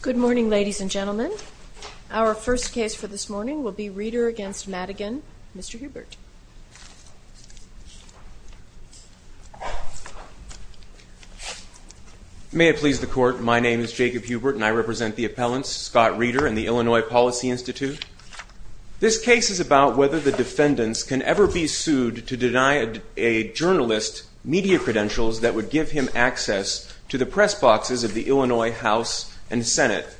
Good morning, ladies and gentlemen. Our first case for this morning will be Reeder v. Madigan. Mr. Hubert. May it please the Court, my name is Jacob Hubert and I represent the appellants Scott Reeder and the Illinois Policy Institute. This case is about whether the defendants can ever be sued to deny a journalist media credentials that would give him access to the press boxes of the Illinois House and Senate.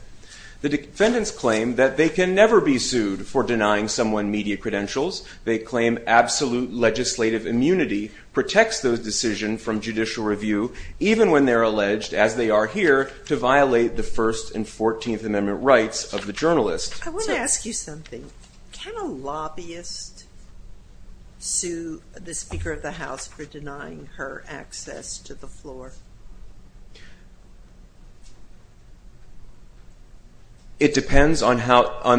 The defendants claim that they can never be sued for denying someone media credentials. They claim absolute legislative immunity protects those decisions from judicial review even when they're alleged, as they are here, to violate the First and Fourteenth Amendment rights of the journalist. I want to ask you something. Can a lobbyist sue the Speaker of the House for denying her access to the floor? It depends on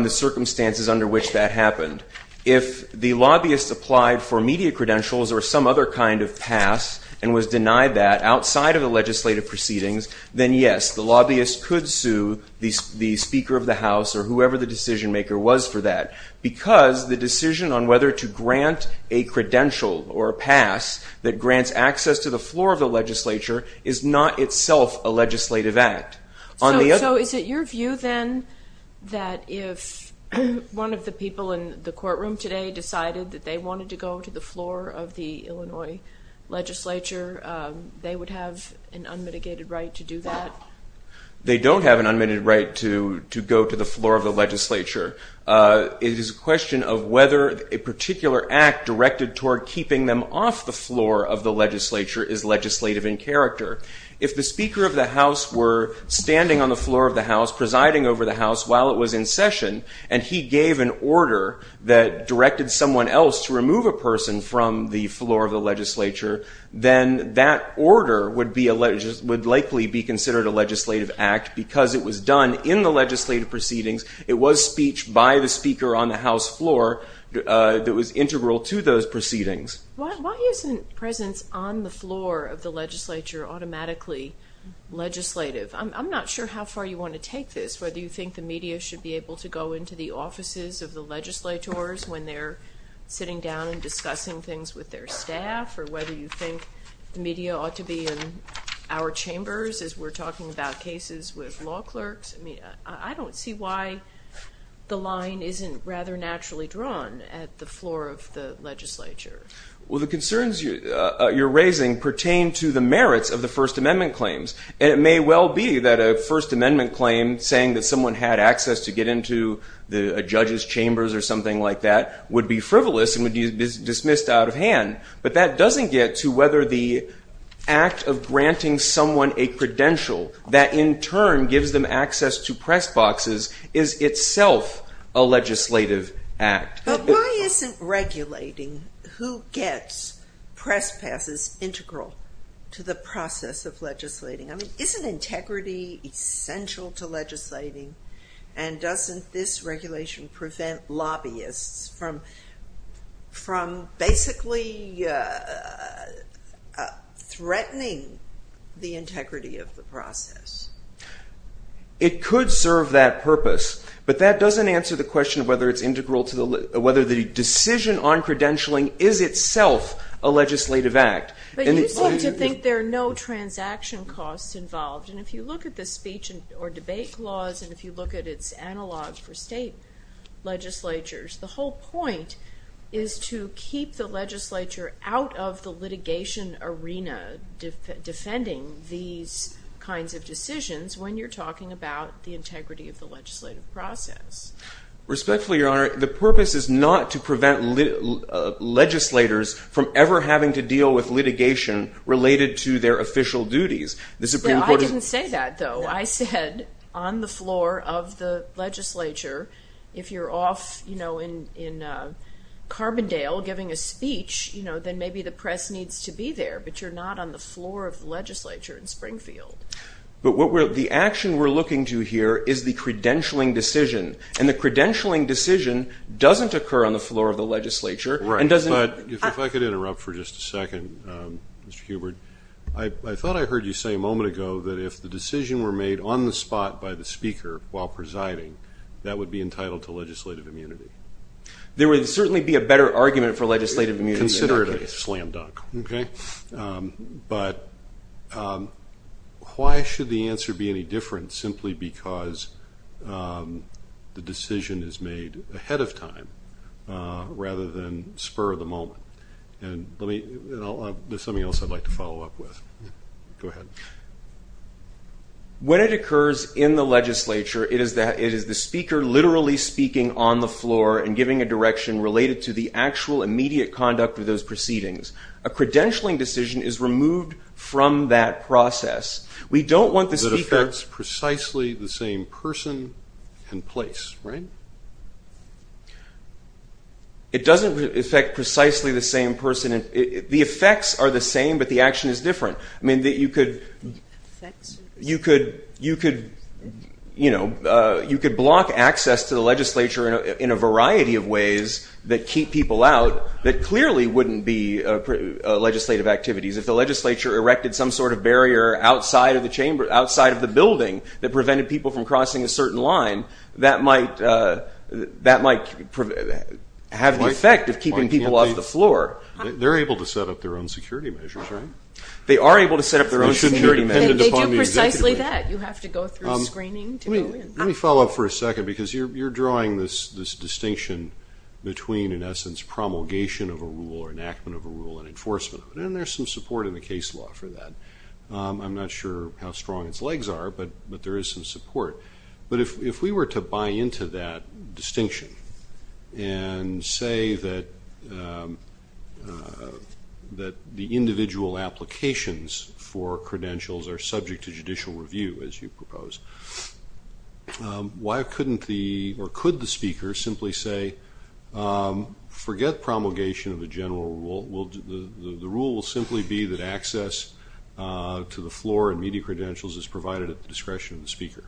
the circumstances under which that happened. If the lobbyist applied for media credentials or some other kind of pass and was denied that outside of the legislative proceedings, then yes, the lobbyist could sue the Speaker of the House or whoever the decision maker was for that, because the decision on whether to grant a credential or a pass that grants access to the floor of the legislature is not itself a legislative act. So is it your view then that if one of the people in the courtroom today decided that they wanted to go to the floor of the Illinois legislature, they would have an unmitigated right to do that? They don't have an unmitigated right to go to the floor of the legislature. It is a question of whether a particular act directed toward keeping them off the floor of the legislature is legislative in character. If the Speaker of the House were standing on the floor of the House, presiding over the House while it was in session, and he gave an order that directed someone else to remove a person from the floor of the legislature, then that order would likely be considered a legislative act because it was done in the legislative proceedings. It was speech by the Speaker on the House floor that was integral to those proceedings. Why isn't presence on the floor of the legislature automatically legislative? I'm not sure how far you want to take this, whether you think the media ought to be in our chambers as we're talking about cases with law clerks. I don't see why the line isn't rather naturally drawn at the floor of the legislature. Well, the concerns you're raising pertain to the merits of the First Amendment claims. It may well be that a First Amendment claim saying that someone had access to get into a judge's chambers or something like that would be frivolous and would be dismissed out of hand. But that doesn't get to whether the act of granting someone a credential that, in turn, gives them access to press boxes is itself a legislative act. But why isn't regulating who gets press passes integral to the process of legislating? I mean, isn't integrity essential to legislating? And doesn't this regulation prevent lobbyists from being able to get into a press box, basically threatening the integrity of the process? It could serve that purpose, but that doesn't answer the question of whether the decision on credentialing is itself a legislative act. But you seem to think there are no transaction costs involved. And if you look at the speech or debate laws and if you look at its analog for state legislatures, the whole point is to keep people in the legislature and to keep the legislature out of the litigation arena defending these kinds of decisions when you're talking about the integrity of the legislative process. Respectfully, Your Honor, the purpose is not to prevent legislators from ever having to deal with litigation related to their official duties. I didn't say that, though. I said on the floor of the legislature, if you're off in Carbondale giving a speech or debating a speech, then maybe the press needs to be there. But you're not on the floor of the legislature in Springfield. But the action we're looking to here is the credentialing decision. And the credentialing decision doesn't occur on the floor of the legislature. Right. But if I could interrupt for just a second, Mr. Hubert, I thought I heard you say a moment ago that if the decision were made on the spot by the speaker while presiding, that would be entitled to legislative immunity. There would certainly be a better argument for legislative immunity in that case. Consider it a slam dunk. But why should the answer be any different simply because the decision is made ahead of time rather than spur of the moment? And there's something on the floor and giving a direction related to the actual immediate conduct of those proceedings. A credentialing decision is removed from that process. We don't want the speaker... It affects precisely the same person and place, right? It doesn't affect precisely the same person. The effects are the same, but the action is different. I mean that you could... You could, you know, you could block access to the legislature in a variety of ways that keep people out that clearly wouldn't be legislative activities. If the legislature erected some sort of barrier outside of the chamber, outside of the building that prevented people from crossing a certain line, that might, that might have the effect of keeping people off the floor. They're able to set up their own security measures, right? They are able to set up their own security measures. They do precisely that. You have to go through screening to go in. Let me follow up for a second because you're drawing this distinction between, in essence, promulgation of a rule or enactment of a rule and enforcement of it. And there's some support in the case law for that. I'm not sure how strong its legs are, but there is some support. But if we were to buy into that distinction and say that the individual applications for media credentials are subject to judicial review, as you propose, why couldn't the, or could the speaker simply say, forget promulgation of a general rule. The rule will simply be that access to the floor and media credentials is provided at the discretion of the speaker.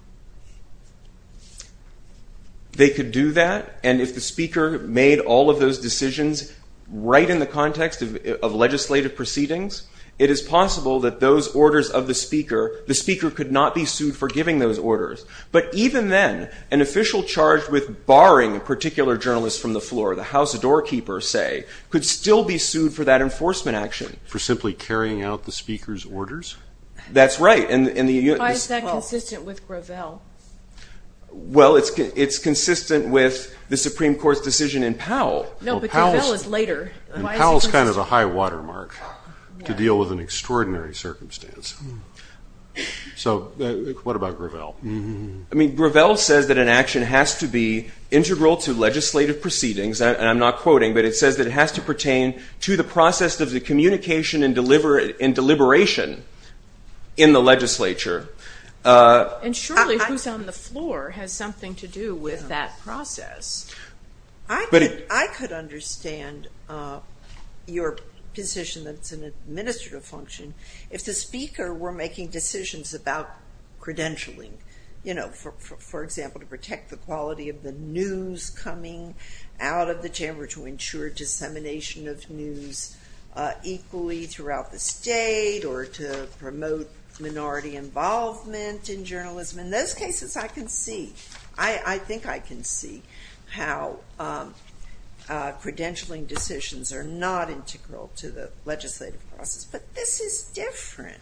They could do that, and if the speaker made all of those decisions right in the context of legislative proceedings, it is possible that those orders of the speaker, the speaker could not be sued for giving those orders. But even then, an official charged with barring a particular journalist from the floor, the house doorkeeper, say, could still be sued for that enforcement action. For simply carrying out the speaker's orders? That's right. Why is that consistent with Gravel? Well, it's consistent with the Supreme Court's decision in Powell. No, but Gravel is later. Powell is kind of a high watermark to deal with an extraordinary circumstance. So, what about Gravel? I mean, Gravel says that an action has to be integral to legislative proceedings, and I'm not quoting, but it says that it has to pertain to the process of the communication and deliberation in the legislature. And surely, who's on the floor has something to do with that process. I could understand your position that it's an administrative function if the speaker were making decisions about credentialing, you know, for example, to protect the quality of the news coming out of the chamber to ensure dissemination of news equally throughout the state or to promote minority involvement in journalism. In those cases, I can see. I think I can see how credentialing decisions are not integral to the legislative process. But this is different.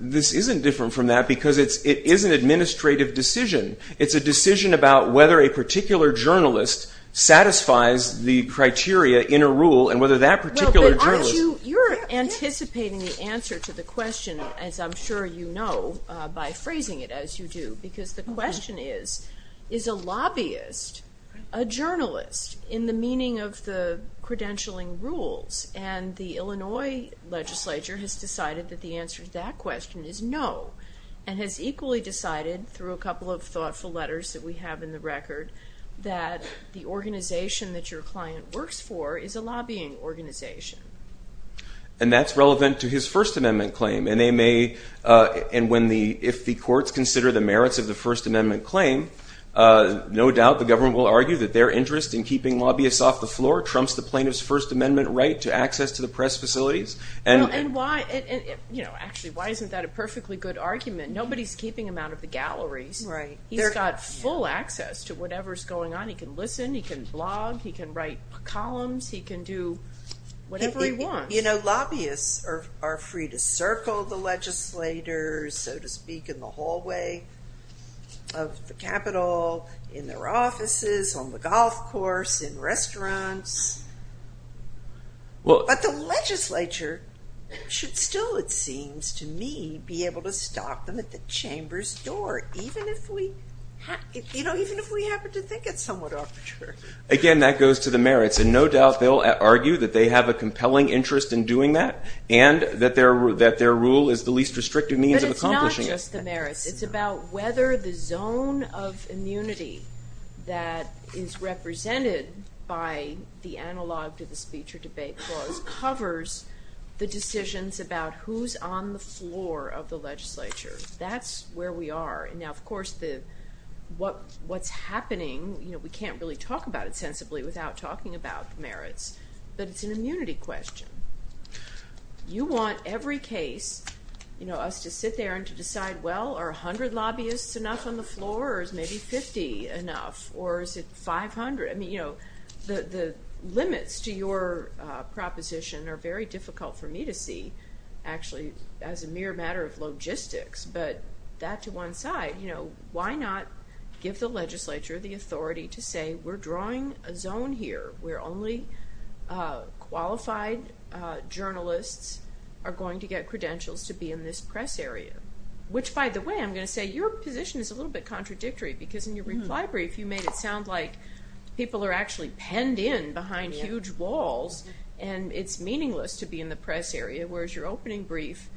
This isn't different from that because it is an administrative decision. It's a decision about whether a particular journalist satisfies the criteria in a rule and whether that particular journalist... You're anticipating the answer to the question, as I'm sure you know, by phrasing it as you do. Because the question is, is a lobbyist a journalist in the meaning of the credentialing rules? And the Illinois legislature has decided that the answer to that question is no, and has equally decided, through a couple of thoughtful letters that we have in the record, that the organization that your client works for is a lobbying organization. And that's relevant to his First Amendment claim. And if the courts consider the merits of the First Amendment claim, no doubt the government will argue that their interest in keeping lobbyists off the floor trumps the plaintiff's First Amendment right to access to the press facilities. Actually, why isn't that a perfectly good argument? Nobody's keeping him out of the galleries. He's got full access to whatever's going on. He can listen. He can blog. He can write columns. He can do whatever he wants. Lobbyists are free to circle the legislators, so to speak, in the hallway of the Capitol, in their offices, on the golf course, in restaurants. But the legislature should still, it seems to me, be able to stop them at the chamber's door, even if we happen to think it's somewhat arbitrary. Again, that goes to the merits. And no doubt they'll argue that they have a compelling interest in doing that, and that their rule is the least restrictive means of accomplishing it. But it's not just the merits. It's about whether the zone of immunity that is represented by the analog to the speech or debate clause covers the decisions about who's on the floor of the legislature. That's where we are. Now, of course, what's happening, we can't really talk about it sensibly without talking about merits, but it's an immunity question. You want every case, us to sit there and to decide, well, are 100 lobbyists enough on the floor, or is maybe 50 enough, or is it 500? The limits to your proposition are very difficult for me to see, actually, as a mere matter of logistics, but that to one side. Why not give the legislature the authority to say, we're drawing a zone here where only qualified journalists are going to get credentials to be in this press area? Which, by the way, I'm going to say, your position is a little bit contradictory, because in your reply brief, you made it sound like people are actually penned in behind huge walls, and it's meaningless to be in the press area, whereas your opening brief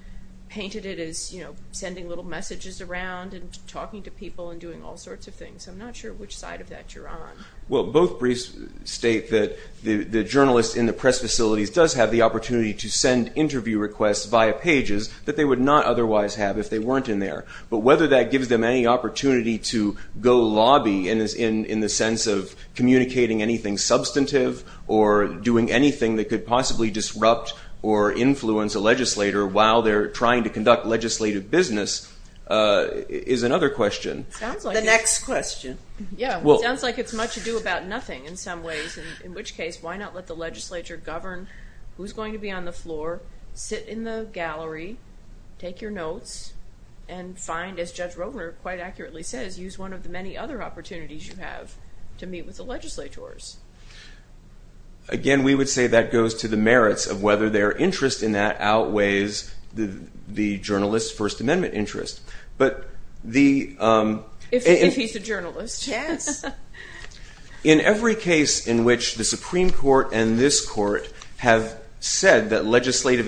painted it as sending little messages around and talking to people and doing all sorts of things. I'm not sure which side of that you're on. Well, both briefs state that the journalist in the press facilities does have the opportunity to send interview requests via pages that they would not otherwise have if they weren't in there, but whether that gives them any opportunity to go lobby in the sense of communicating anything substantive or doing anything that could possibly disrupt or influence a legislator while they're trying to conduct legislative business is another question. The next question. It sounds like it's much ado about nothing in some ways, in which case, why not let the legislature govern who's going to be on the panel, which quite accurately says, use one of the many other opportunities you have to meet with the legislators? Again, we would say that goes to the merits of whether their interest in that outweighs the journalist's First Amendment interest. If he's a journalist. In every case in which the Supreme Court and this court have said that the Supreme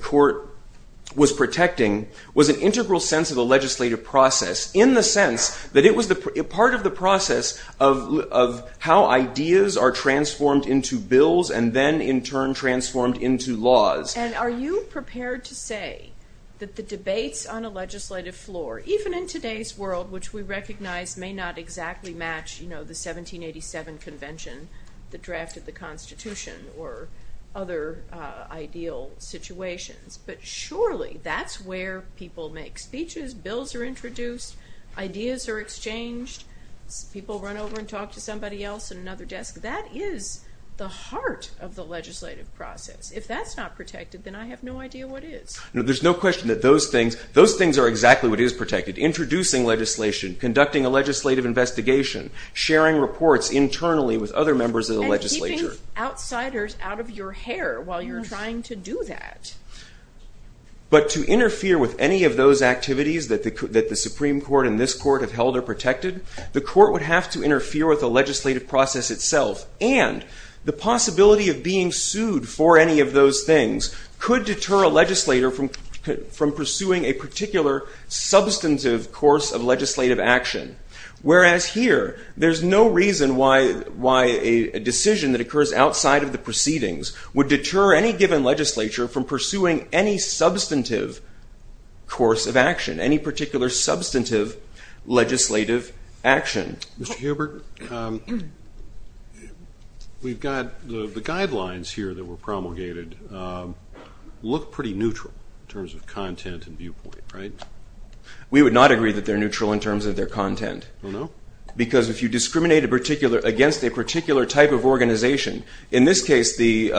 Court was protecting was an integral sense of the legislative process in the sense that it was part of the process of how ideas are transformed into bills and then in turn transformed into laws. And are you prepared to say that the debates on a legislative floor, even in today's world, which we recognize may not exactly match the 1787 convention that drafted the Constitution or other ideal situations, but surely that's where people make speeches, bills are introduced, ideas are exchanged, people run over and talk to somebody else at another desk. That is the heart of the legislative process. If that's not protected, then I have no idea what is. There's no question that those things are exactly what is for other members of the legislature. And keeping outsiders out of your hair while you're trying to do that. But to interfere with any of those activities that the Supreme Court and this court have held are protected, the court would have to interfere with the legislative process itself and the possibility of being sued for any of those things could deter a legislator from pursuing a particular substantive course of legislative action. Whereas here, there's no reason why a decision that occurs outside of the proceedings would deter any given legislature from pursuing any substantive course of action, any particular substantive legislative action. Mr. Hubert, we've got the guidelines here that were promulgated look pretty neutral in terms of content and viewpoint, right? We would not agree that they're neutral in terms of their content. Because if you discriminate against a particular type of organization, in this case the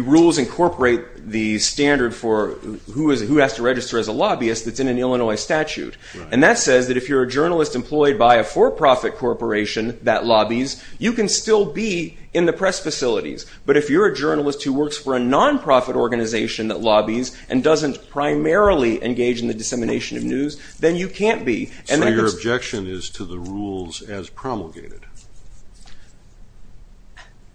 rules incorporate the standard for who has to register as a lobbyist that's in an Illinois statute. And that says that if you're a journalist employed by a for-profit corporation that lobbies, you can still be in the press facilities. But if you're a journalist who works for a non-profit organization that lobbies and doesn't primarily engage in the dissemination of news, then you can't be. So your objection is to the rules as promulgated?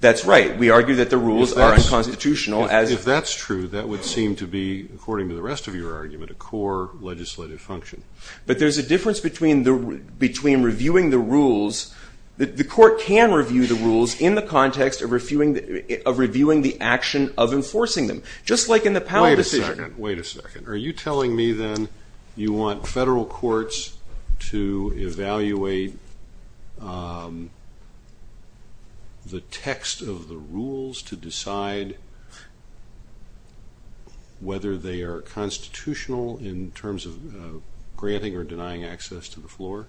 That's right. We argue that the rules are unconstitutional. If that's true, that would seem to be, according to the rest of your argument, a core legislative function. But there's a difference between reviewing the rules. The court can review the rules in the context of reviewing the action of enforcing them. Just like in the Powell decision. Wait a second. Are you telling me the text of the rules to decide whether they are constitutional in terms of granting or denying access to the floor?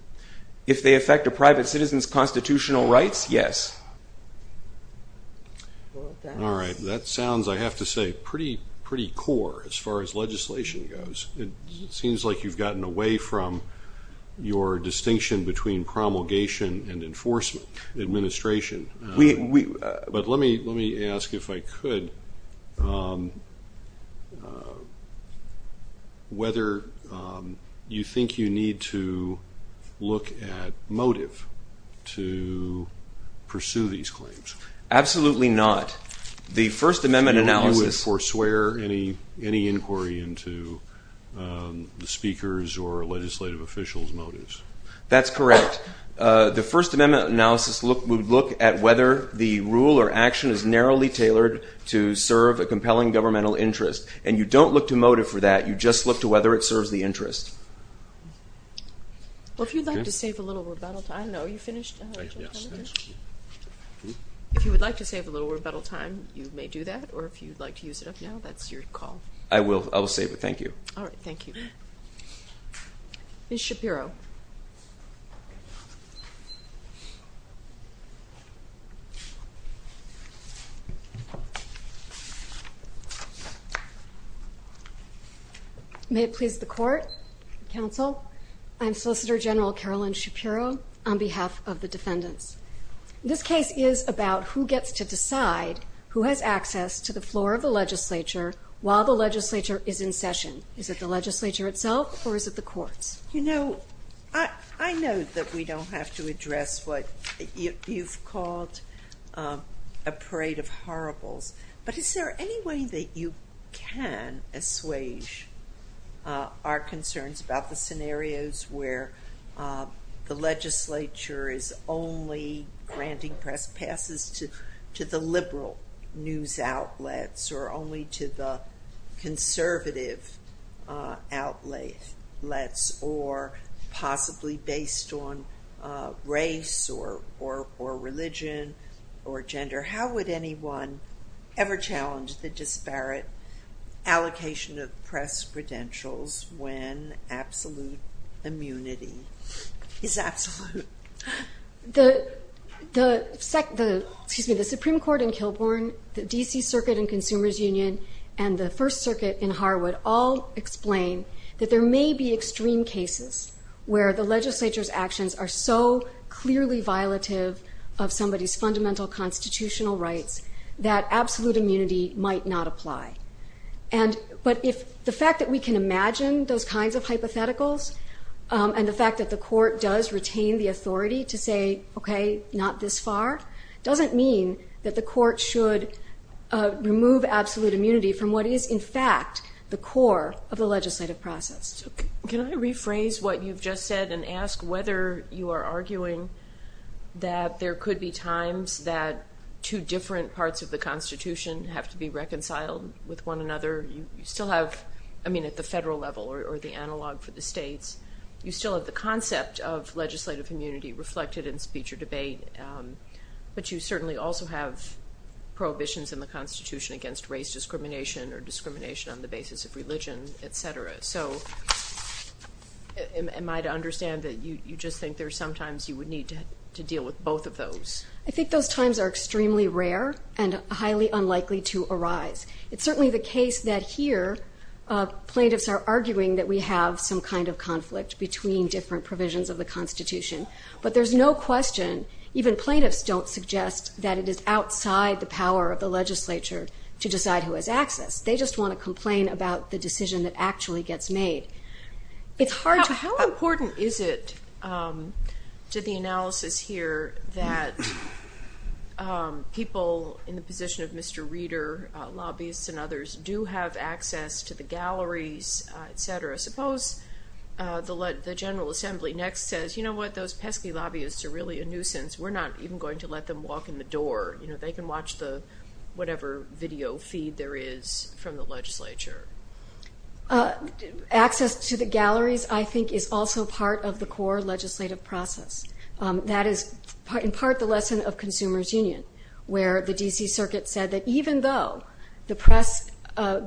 If they affect a private citizen's constitutional rights, yes. Alright, that sounds, I have to say, pretty core as far as legislation goes. It seems like you've gotten away from your distinction between promulgation and enforcement administration. But let me ask if I could whether you think you need to look at motive to pursue these claims? Absolutely not. The First Amendment analysis... Do you foreswear any inquiry into the speaker's or legislative official's motives? That's correct. The First Amendment analysis would look at whether the rule or action is narrowly tailored to serve a compelling governmental interest. And you don't look to motive for that. You just look to whether it serves the interest. Well, if you'd like to save a little rebuttal time... No, are you finished? If you would like to save a little rebuttal time, you may do that. Or if you'd like to use it up now, that's your call. I will save it. Thank you. Alright, thank you. Ms. Shapiro. May it please the Court, counsel? I'm Solicitor General Carolyn Shapiro on behalf of the defendants. This case is about who gets to decide who has access to the floor of the legislature while the legislature is in session. Is it the legislature itself or is it the courts? I know that we don't have to address what you've called a parade of horribles, but is there any way that you can assuage our concerns about the scenarios where the legislature is only granting press passes to the liberal news outlets or only to the conservative outlets or possibly based on race or religion or gender? How would anyone ever challenge the disparate allocation of press credentials when absolute immunity is absolute? The Supreme Court in Kilbourne, the D.C. Circuit in Consumer's Union, and the First Circuit in Harwood all explain that there may be extreme cases where the legislature's actions are so clearly violative of somebody's fundamental constitutional rights that absolute we can imagine those kinds of hypotheticals and the fact that the court does retain the authority to say, okay, not this far, doesn't mean that the court should remove absolute immunity from what is in fact the core of the legislative process. Can I rephrase what you've just said and ask whether you are arguing that there could be times that two different parts of the Constitution have to be reconciled with one another? You still have, I mean at the federal level or the analog for the states, you still have the concept of legislative immunity reflected in speech or debate, but you certainly also have prohibitions in the Constitution against race discrimination or discrimination on the basis of religion, etc. So, am I right to understand that you just think there's sometimes you would need to deal with both of those? I think those times are extremely rare and highly unlikely to arise. It's certainly the case that here plaintiffs are arguing that we have some kind of conflict between different provisions of the Constitution, but there's no question, even plaintiffs don't suggest that it is outside the power of the legislature to decide who actually gets made. How important is it to the analysis here that people in the position of Mr. Reader, lobbyists and others, do have access to the galleries, etc.? Suppose the General Assembly next says, you know what, those pesky lobbyists are really a nuisance, we're not even going to let them walk in the door. They can watch whatever video feed there is from the legislature. Access to the galleries, I think, is also part of the core legislative process. That is in part the lesson of Consumers Union, where the D.C. Circuit said that even though the press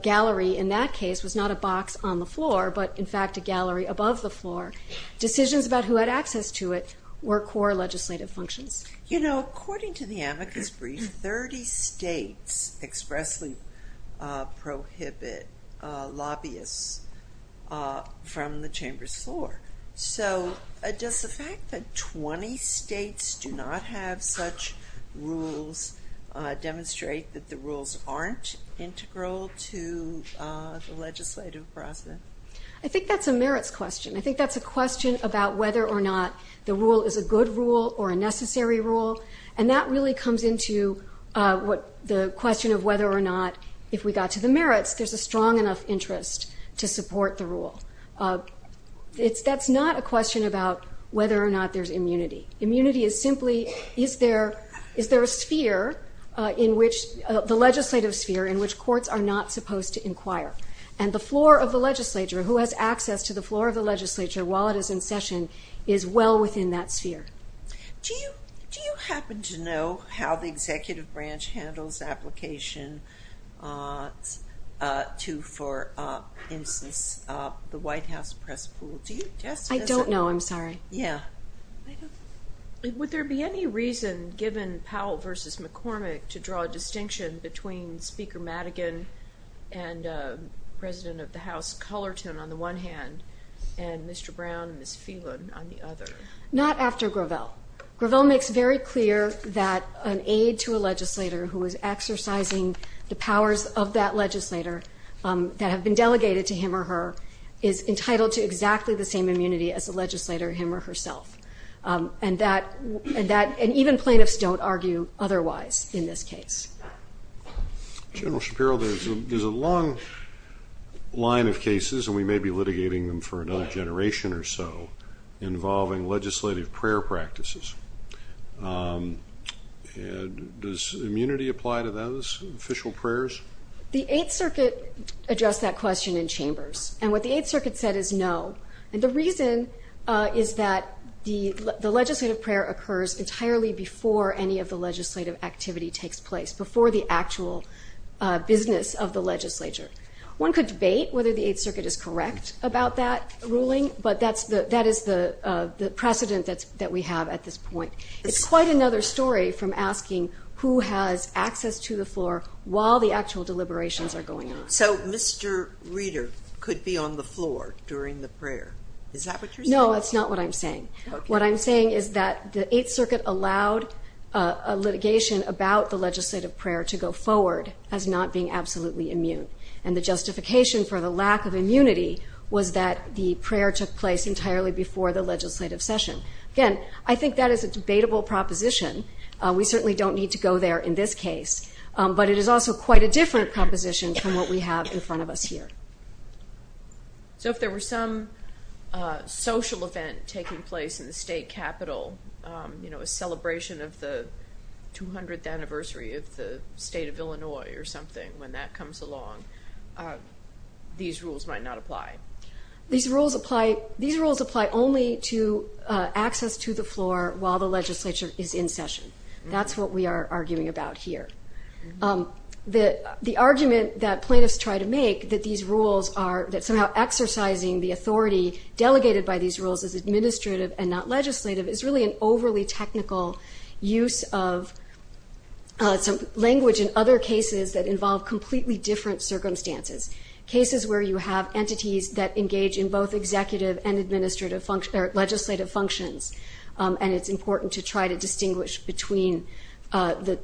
gallery in that case was not a box on the floor, but in fact a gallery above the floor, decisions about who had access to it were core legislative functions. You know, according to the amicus brief, 30 states expressly prohibit lobbyists from the chamber's floor. So does the fact that 20 states do not have such rules demonstrate that the rules aren't integral to the legislative process? I think that's a merits question. I think that's a question about whether or not the rule is a good rule or a necessary rule, and that really comes into the question of whether or not, if we got to the merits, there's a strong enough interest to support the rule. That's not a question about whether or not there's immunity. Immunity is simply, is there a sphere, the legislative sphere, in which courts are not supposed to inquire? And the floor of the legislature, who has access to the floor of the legislature while it is in session, is well within that sphere. Do you happen to know how Would there be any reason, given Powell versus McCormick, to draw a distinction between Speaker Madigan and President of the House Cullerton on the one hand, and Mr. Brown and Ms. Phelan on the other? Not after Gravel. Gravel makes very clear that an aide to a legislator who is exercising the powers of that legislator that have been And even plaintiffs don't argue otherwise in this case. General Shapiro, there's a long line of cases, and we may be litigating them for another generation or so, involving legislative prayer practices. Does immunity apply to those official prayers? The Eighth Circuit addressed that question in prayer occurs entirely before any of the legislative activity takes place, before the actual business of the legislature. One could debate whether the Eighth Circuit is correct about that ruling, but that is the precedent that we have at this point. It's quite another story from asking who has access to the floor while the actual deliberations are going on. So Mr. Reeder could be on the floor during the prayer. Is that what you're saying? No, that's not what I'm saying. What I'm saying is that the Eighth Circuit allowed litigation about the legislative prayer to go forward as not being absolutely immune. And the justification for the lack of immunity was that the prayer took place entirely before the legislative session. Again, I think that is a debatable proposition. We certainly don't need to go there in this case, but it is also quite a different proposition from what we have in front of us here. So if there were some social event taking place in the state capital, a celebration of the 200th anniversary of the state of Illinois or something, when that comes along, these rules might not apply? These rules apply only to access to the floor while the legislature is in session. That's what we are arguing about here. The argument that plaintiffs try to make that these rules are somehow exercising the authority delegated by these rules as administrative and not legislative is really an overly technical use of language in other cases that involve completely different circumstances. Cases where you have entities that engage in both executive and legislative functions. And it's important to try to distinguish between the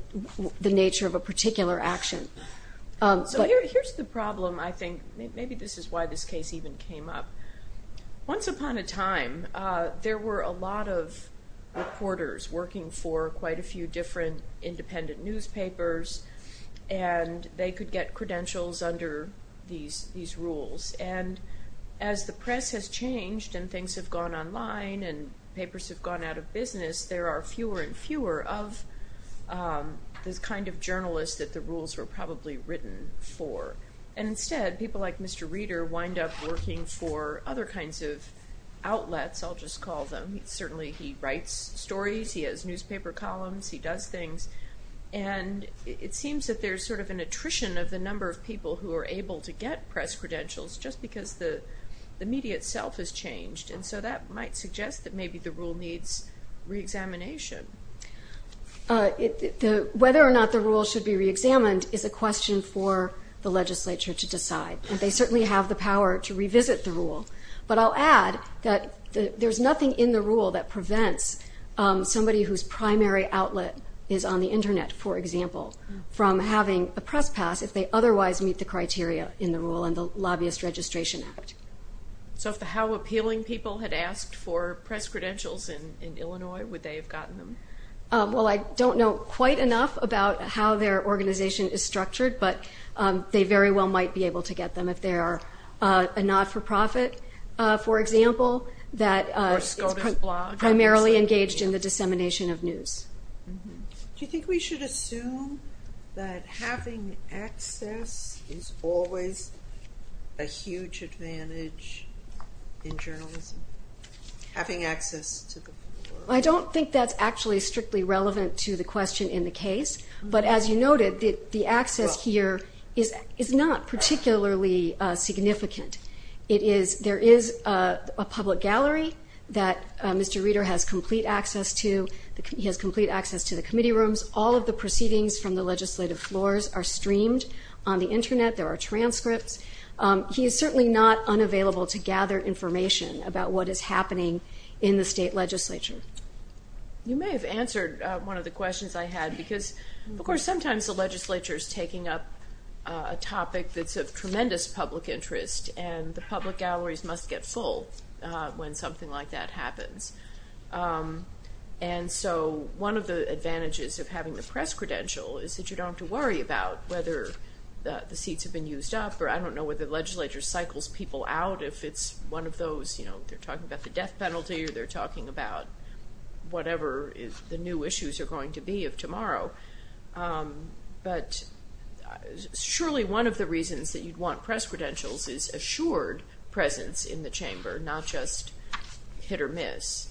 nature of a particular action. So here's the problem, I think. Maybe this is why this case even came up. Once upon a time, there were a lot of reporters working for quite a few different independent newspapers, and they could get credentials under these rules. And as the press has changed and things have gone online and papers have gone out of business, there are fewer and fewer of this kind of journalist that the rules were probably written for. And instead, people like Mr. Reader wind up working for other kinds of outlets, I'll just call them. Certainly he writes stories, he has newspaper columns, he does things. And it seems that there's sort of an attrition of the number of people who are able to get press credentials just because the media itself has changed. And so that might suggest that maybe the rule needs re-examination. Whether or not the rule should be re-examined is a question for the legislature to decide. And they certainly have the power to revisit the rule. But I'll add that there's nothing in the rule that prevents somebody whose primary outlet is on the internet, for example, from having a press pass if they otherwise meet the criteria in the rule and the Lobbyist Registration Act. So if the how appealing people had asked for press credentials in Illinois, would they have gotten them? Well I don't know quite enough about how their organization is structured, but they very well might be able to get them if they are a not-for-profit, for example, that is primarily engaged in the dissemination of news. Do you think we should assume that having access is always a huge advantage in journalism? Having access to the floor? I don't think that's actually strictly relevant to the question in the case. But as you noted, the access here is not particularly significant. There is a public gallery that Mr. Reeder has complete access to. He has complete access to the committee rooms. All of the proceedings from the legislative floors are streamed on the internet. There are transcripts. He is certainly not unavailable to gather information about what is happening in the state legislature. You may have answered one of the questions I had because of course sometimes the legislature is taking up a topic that's of tremendous public interest and the public galleries must get full when something like that happens. So one of the advantages of having the press credential is that you don't have to worry about whether the seats have been used up or I don't know whether the legislature cycles people out if it's one of those, you know, they're talking about the death penalty or they're talking about whatever the new issues are going to be of tomorrow. But surely one of the reasons that you'd want press credentials is assured presence in the chamber, not just hit or miss.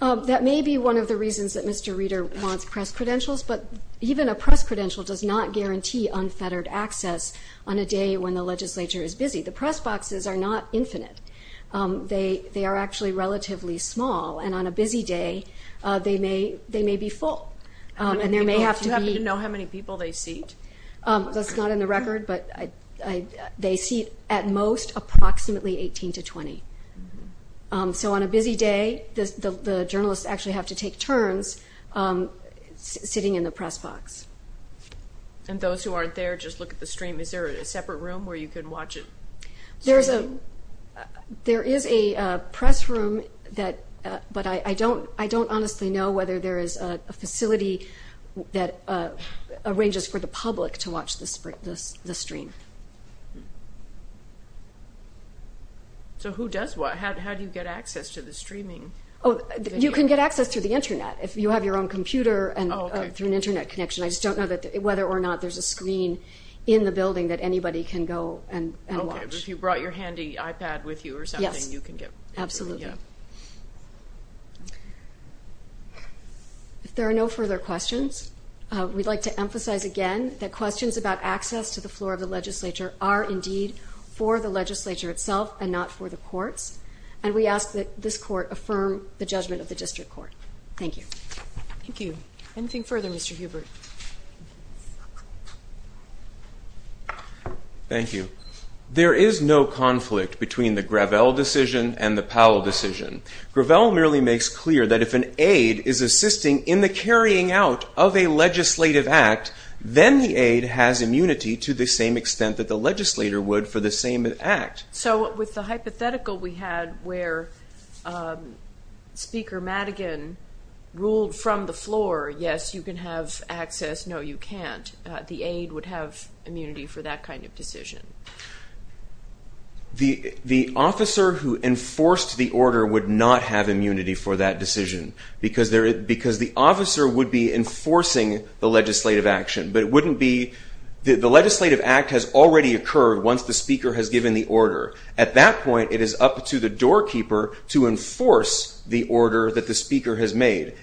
That may be one of the reasons that Mr. Reeder wants press credentials, but even a press credential does not guarantee unfettered access on a day when the legislature is busy. The press boxes are not infinite. They are actually relatively small and on a busy day they may be full. And there may have to be... Do you happen to know how many people they seat? That's not in the record, but they seat at most approximately 18 to 20. So on a busy day the journalists actually have to take turns sitting in the press box. And those who aren't there just look at the stream. Is there a separate room where you can watch it? There is a press room, but I don't honestly know whether there is a facility that arranges for the public to watch the stream. So who does what? How do you get access to the press? I just don't know whether or not there is a screen in the building that anybody can go and watch. Okay, but if you brought your handy iPad with you or something you can get... Absolutely. If there are no further questions, we'd like to emphasize again that questions about access to the floor of the legislature are indeed for the legislature itself and not for the courts. And we ask that this Thank you. There is no conflict between the Gravel decision and the Powell decision. Gravel merely makes clear that if an aide is assisting in the carrying out of a legislative act, then the aide has immunity to the same extent that the legislator would for the same act. So with the hypothetical we had where Speaker Madigan ruled from the floor, yes you can have access, no you can't. The aide would have immunity for that kind of decision. The officer who enforced the order would not have immunity for that decision. Because the officer would be enforcing the legislative action. But it wouldn't be... The legislative act has already occurred once the Speaker has given the order. At that point it is up to the doorkeeper to enforce the order that the Speaker has made.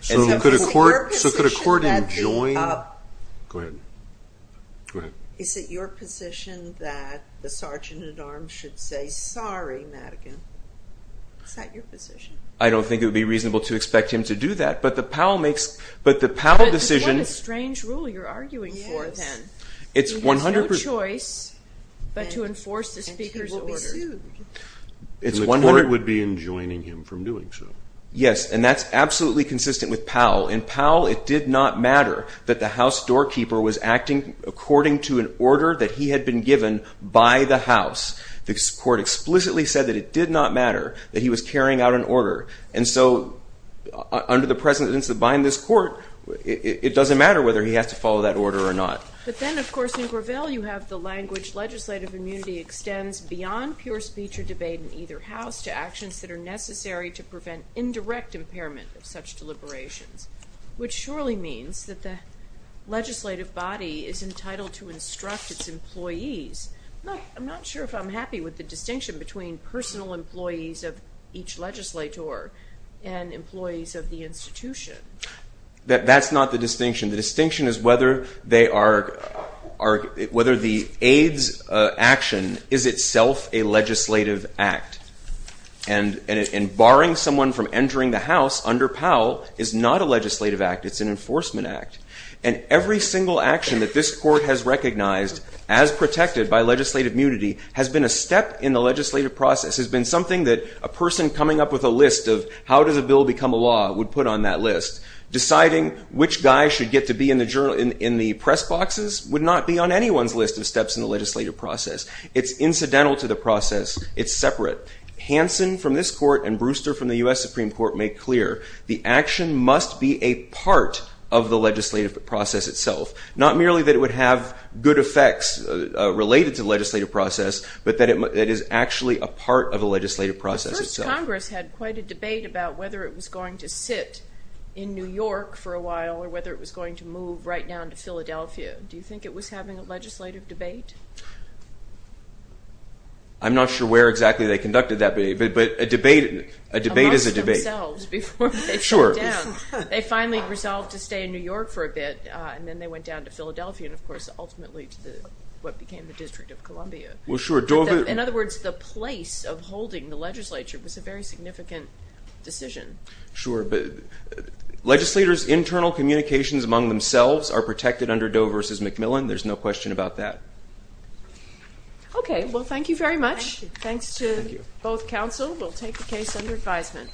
Is it your position that the Sergeant at Arms should say sorry, Madigan? Is that your position? I don't think it would be reasonable to expect him to do that. But the Powell decision... What a strange rule you are arguing for. He has no choice but to enforce the Speaker's order. Yes, and that is absolutely consistent with Powell. In Powell it did not matter that the house doorkeeper was acting according to an order that he had been given by the house. The court explicitly said that it did not matter that he was carrying out an order. Under the presence of this court, it doesn't matter whether he has to follow that order or not. But then of course in Gravel you have the language legislative immunity extends beyond pure speech or debate in either house to actions that are necessary to prevent indirect impairment of such deliberations. Which surely means that the legislative body is entitled to instruct its employees. I'm not sure if I'm happy with the distinction between personal employees of each legislator and employees of the institution. That's not the distinction. The distinction is whether the aides action is itself a legislative act. And barring someone from entering the house under Powell is not a legislative act. It's an enforcement act. And every single action that this court has recognized as protected by legislative immunity has been a step in the legislative process, has been something that a person coming up with a list of how does a bill become a law would put on that list. Deciding which guy should get to be in the press boxes would not be on anyone's list of steps in the legislative process. It's incidental to the process. It's separate. Hansen from this court and Brewster from the U.S. Supreme Court make clear the action must be a part of the legislative process itself. Not merely that it would have good effects related to legislative process, but that it is actually a part of the legislative process itself. Congress had quite a debate about whether it was going to sit in New York for a while or whether it was going to move right down to Philadelphia. Do you think it was having a legislative debate? I'm not sure where exactly they conducted that debate, but a debate is a debate. They finally resolved to stay in New York for a bit and then they went down to Philadelphia and of course ultimately to what became the District of Columbia. In other words, the place of holding the legislature was a very significant decision. Legislators' internal communications among themselves are protected under Doe v. McMillan. There's no question about that. Thank you very much. Thanks to both counsel. We'll take the case under advisement.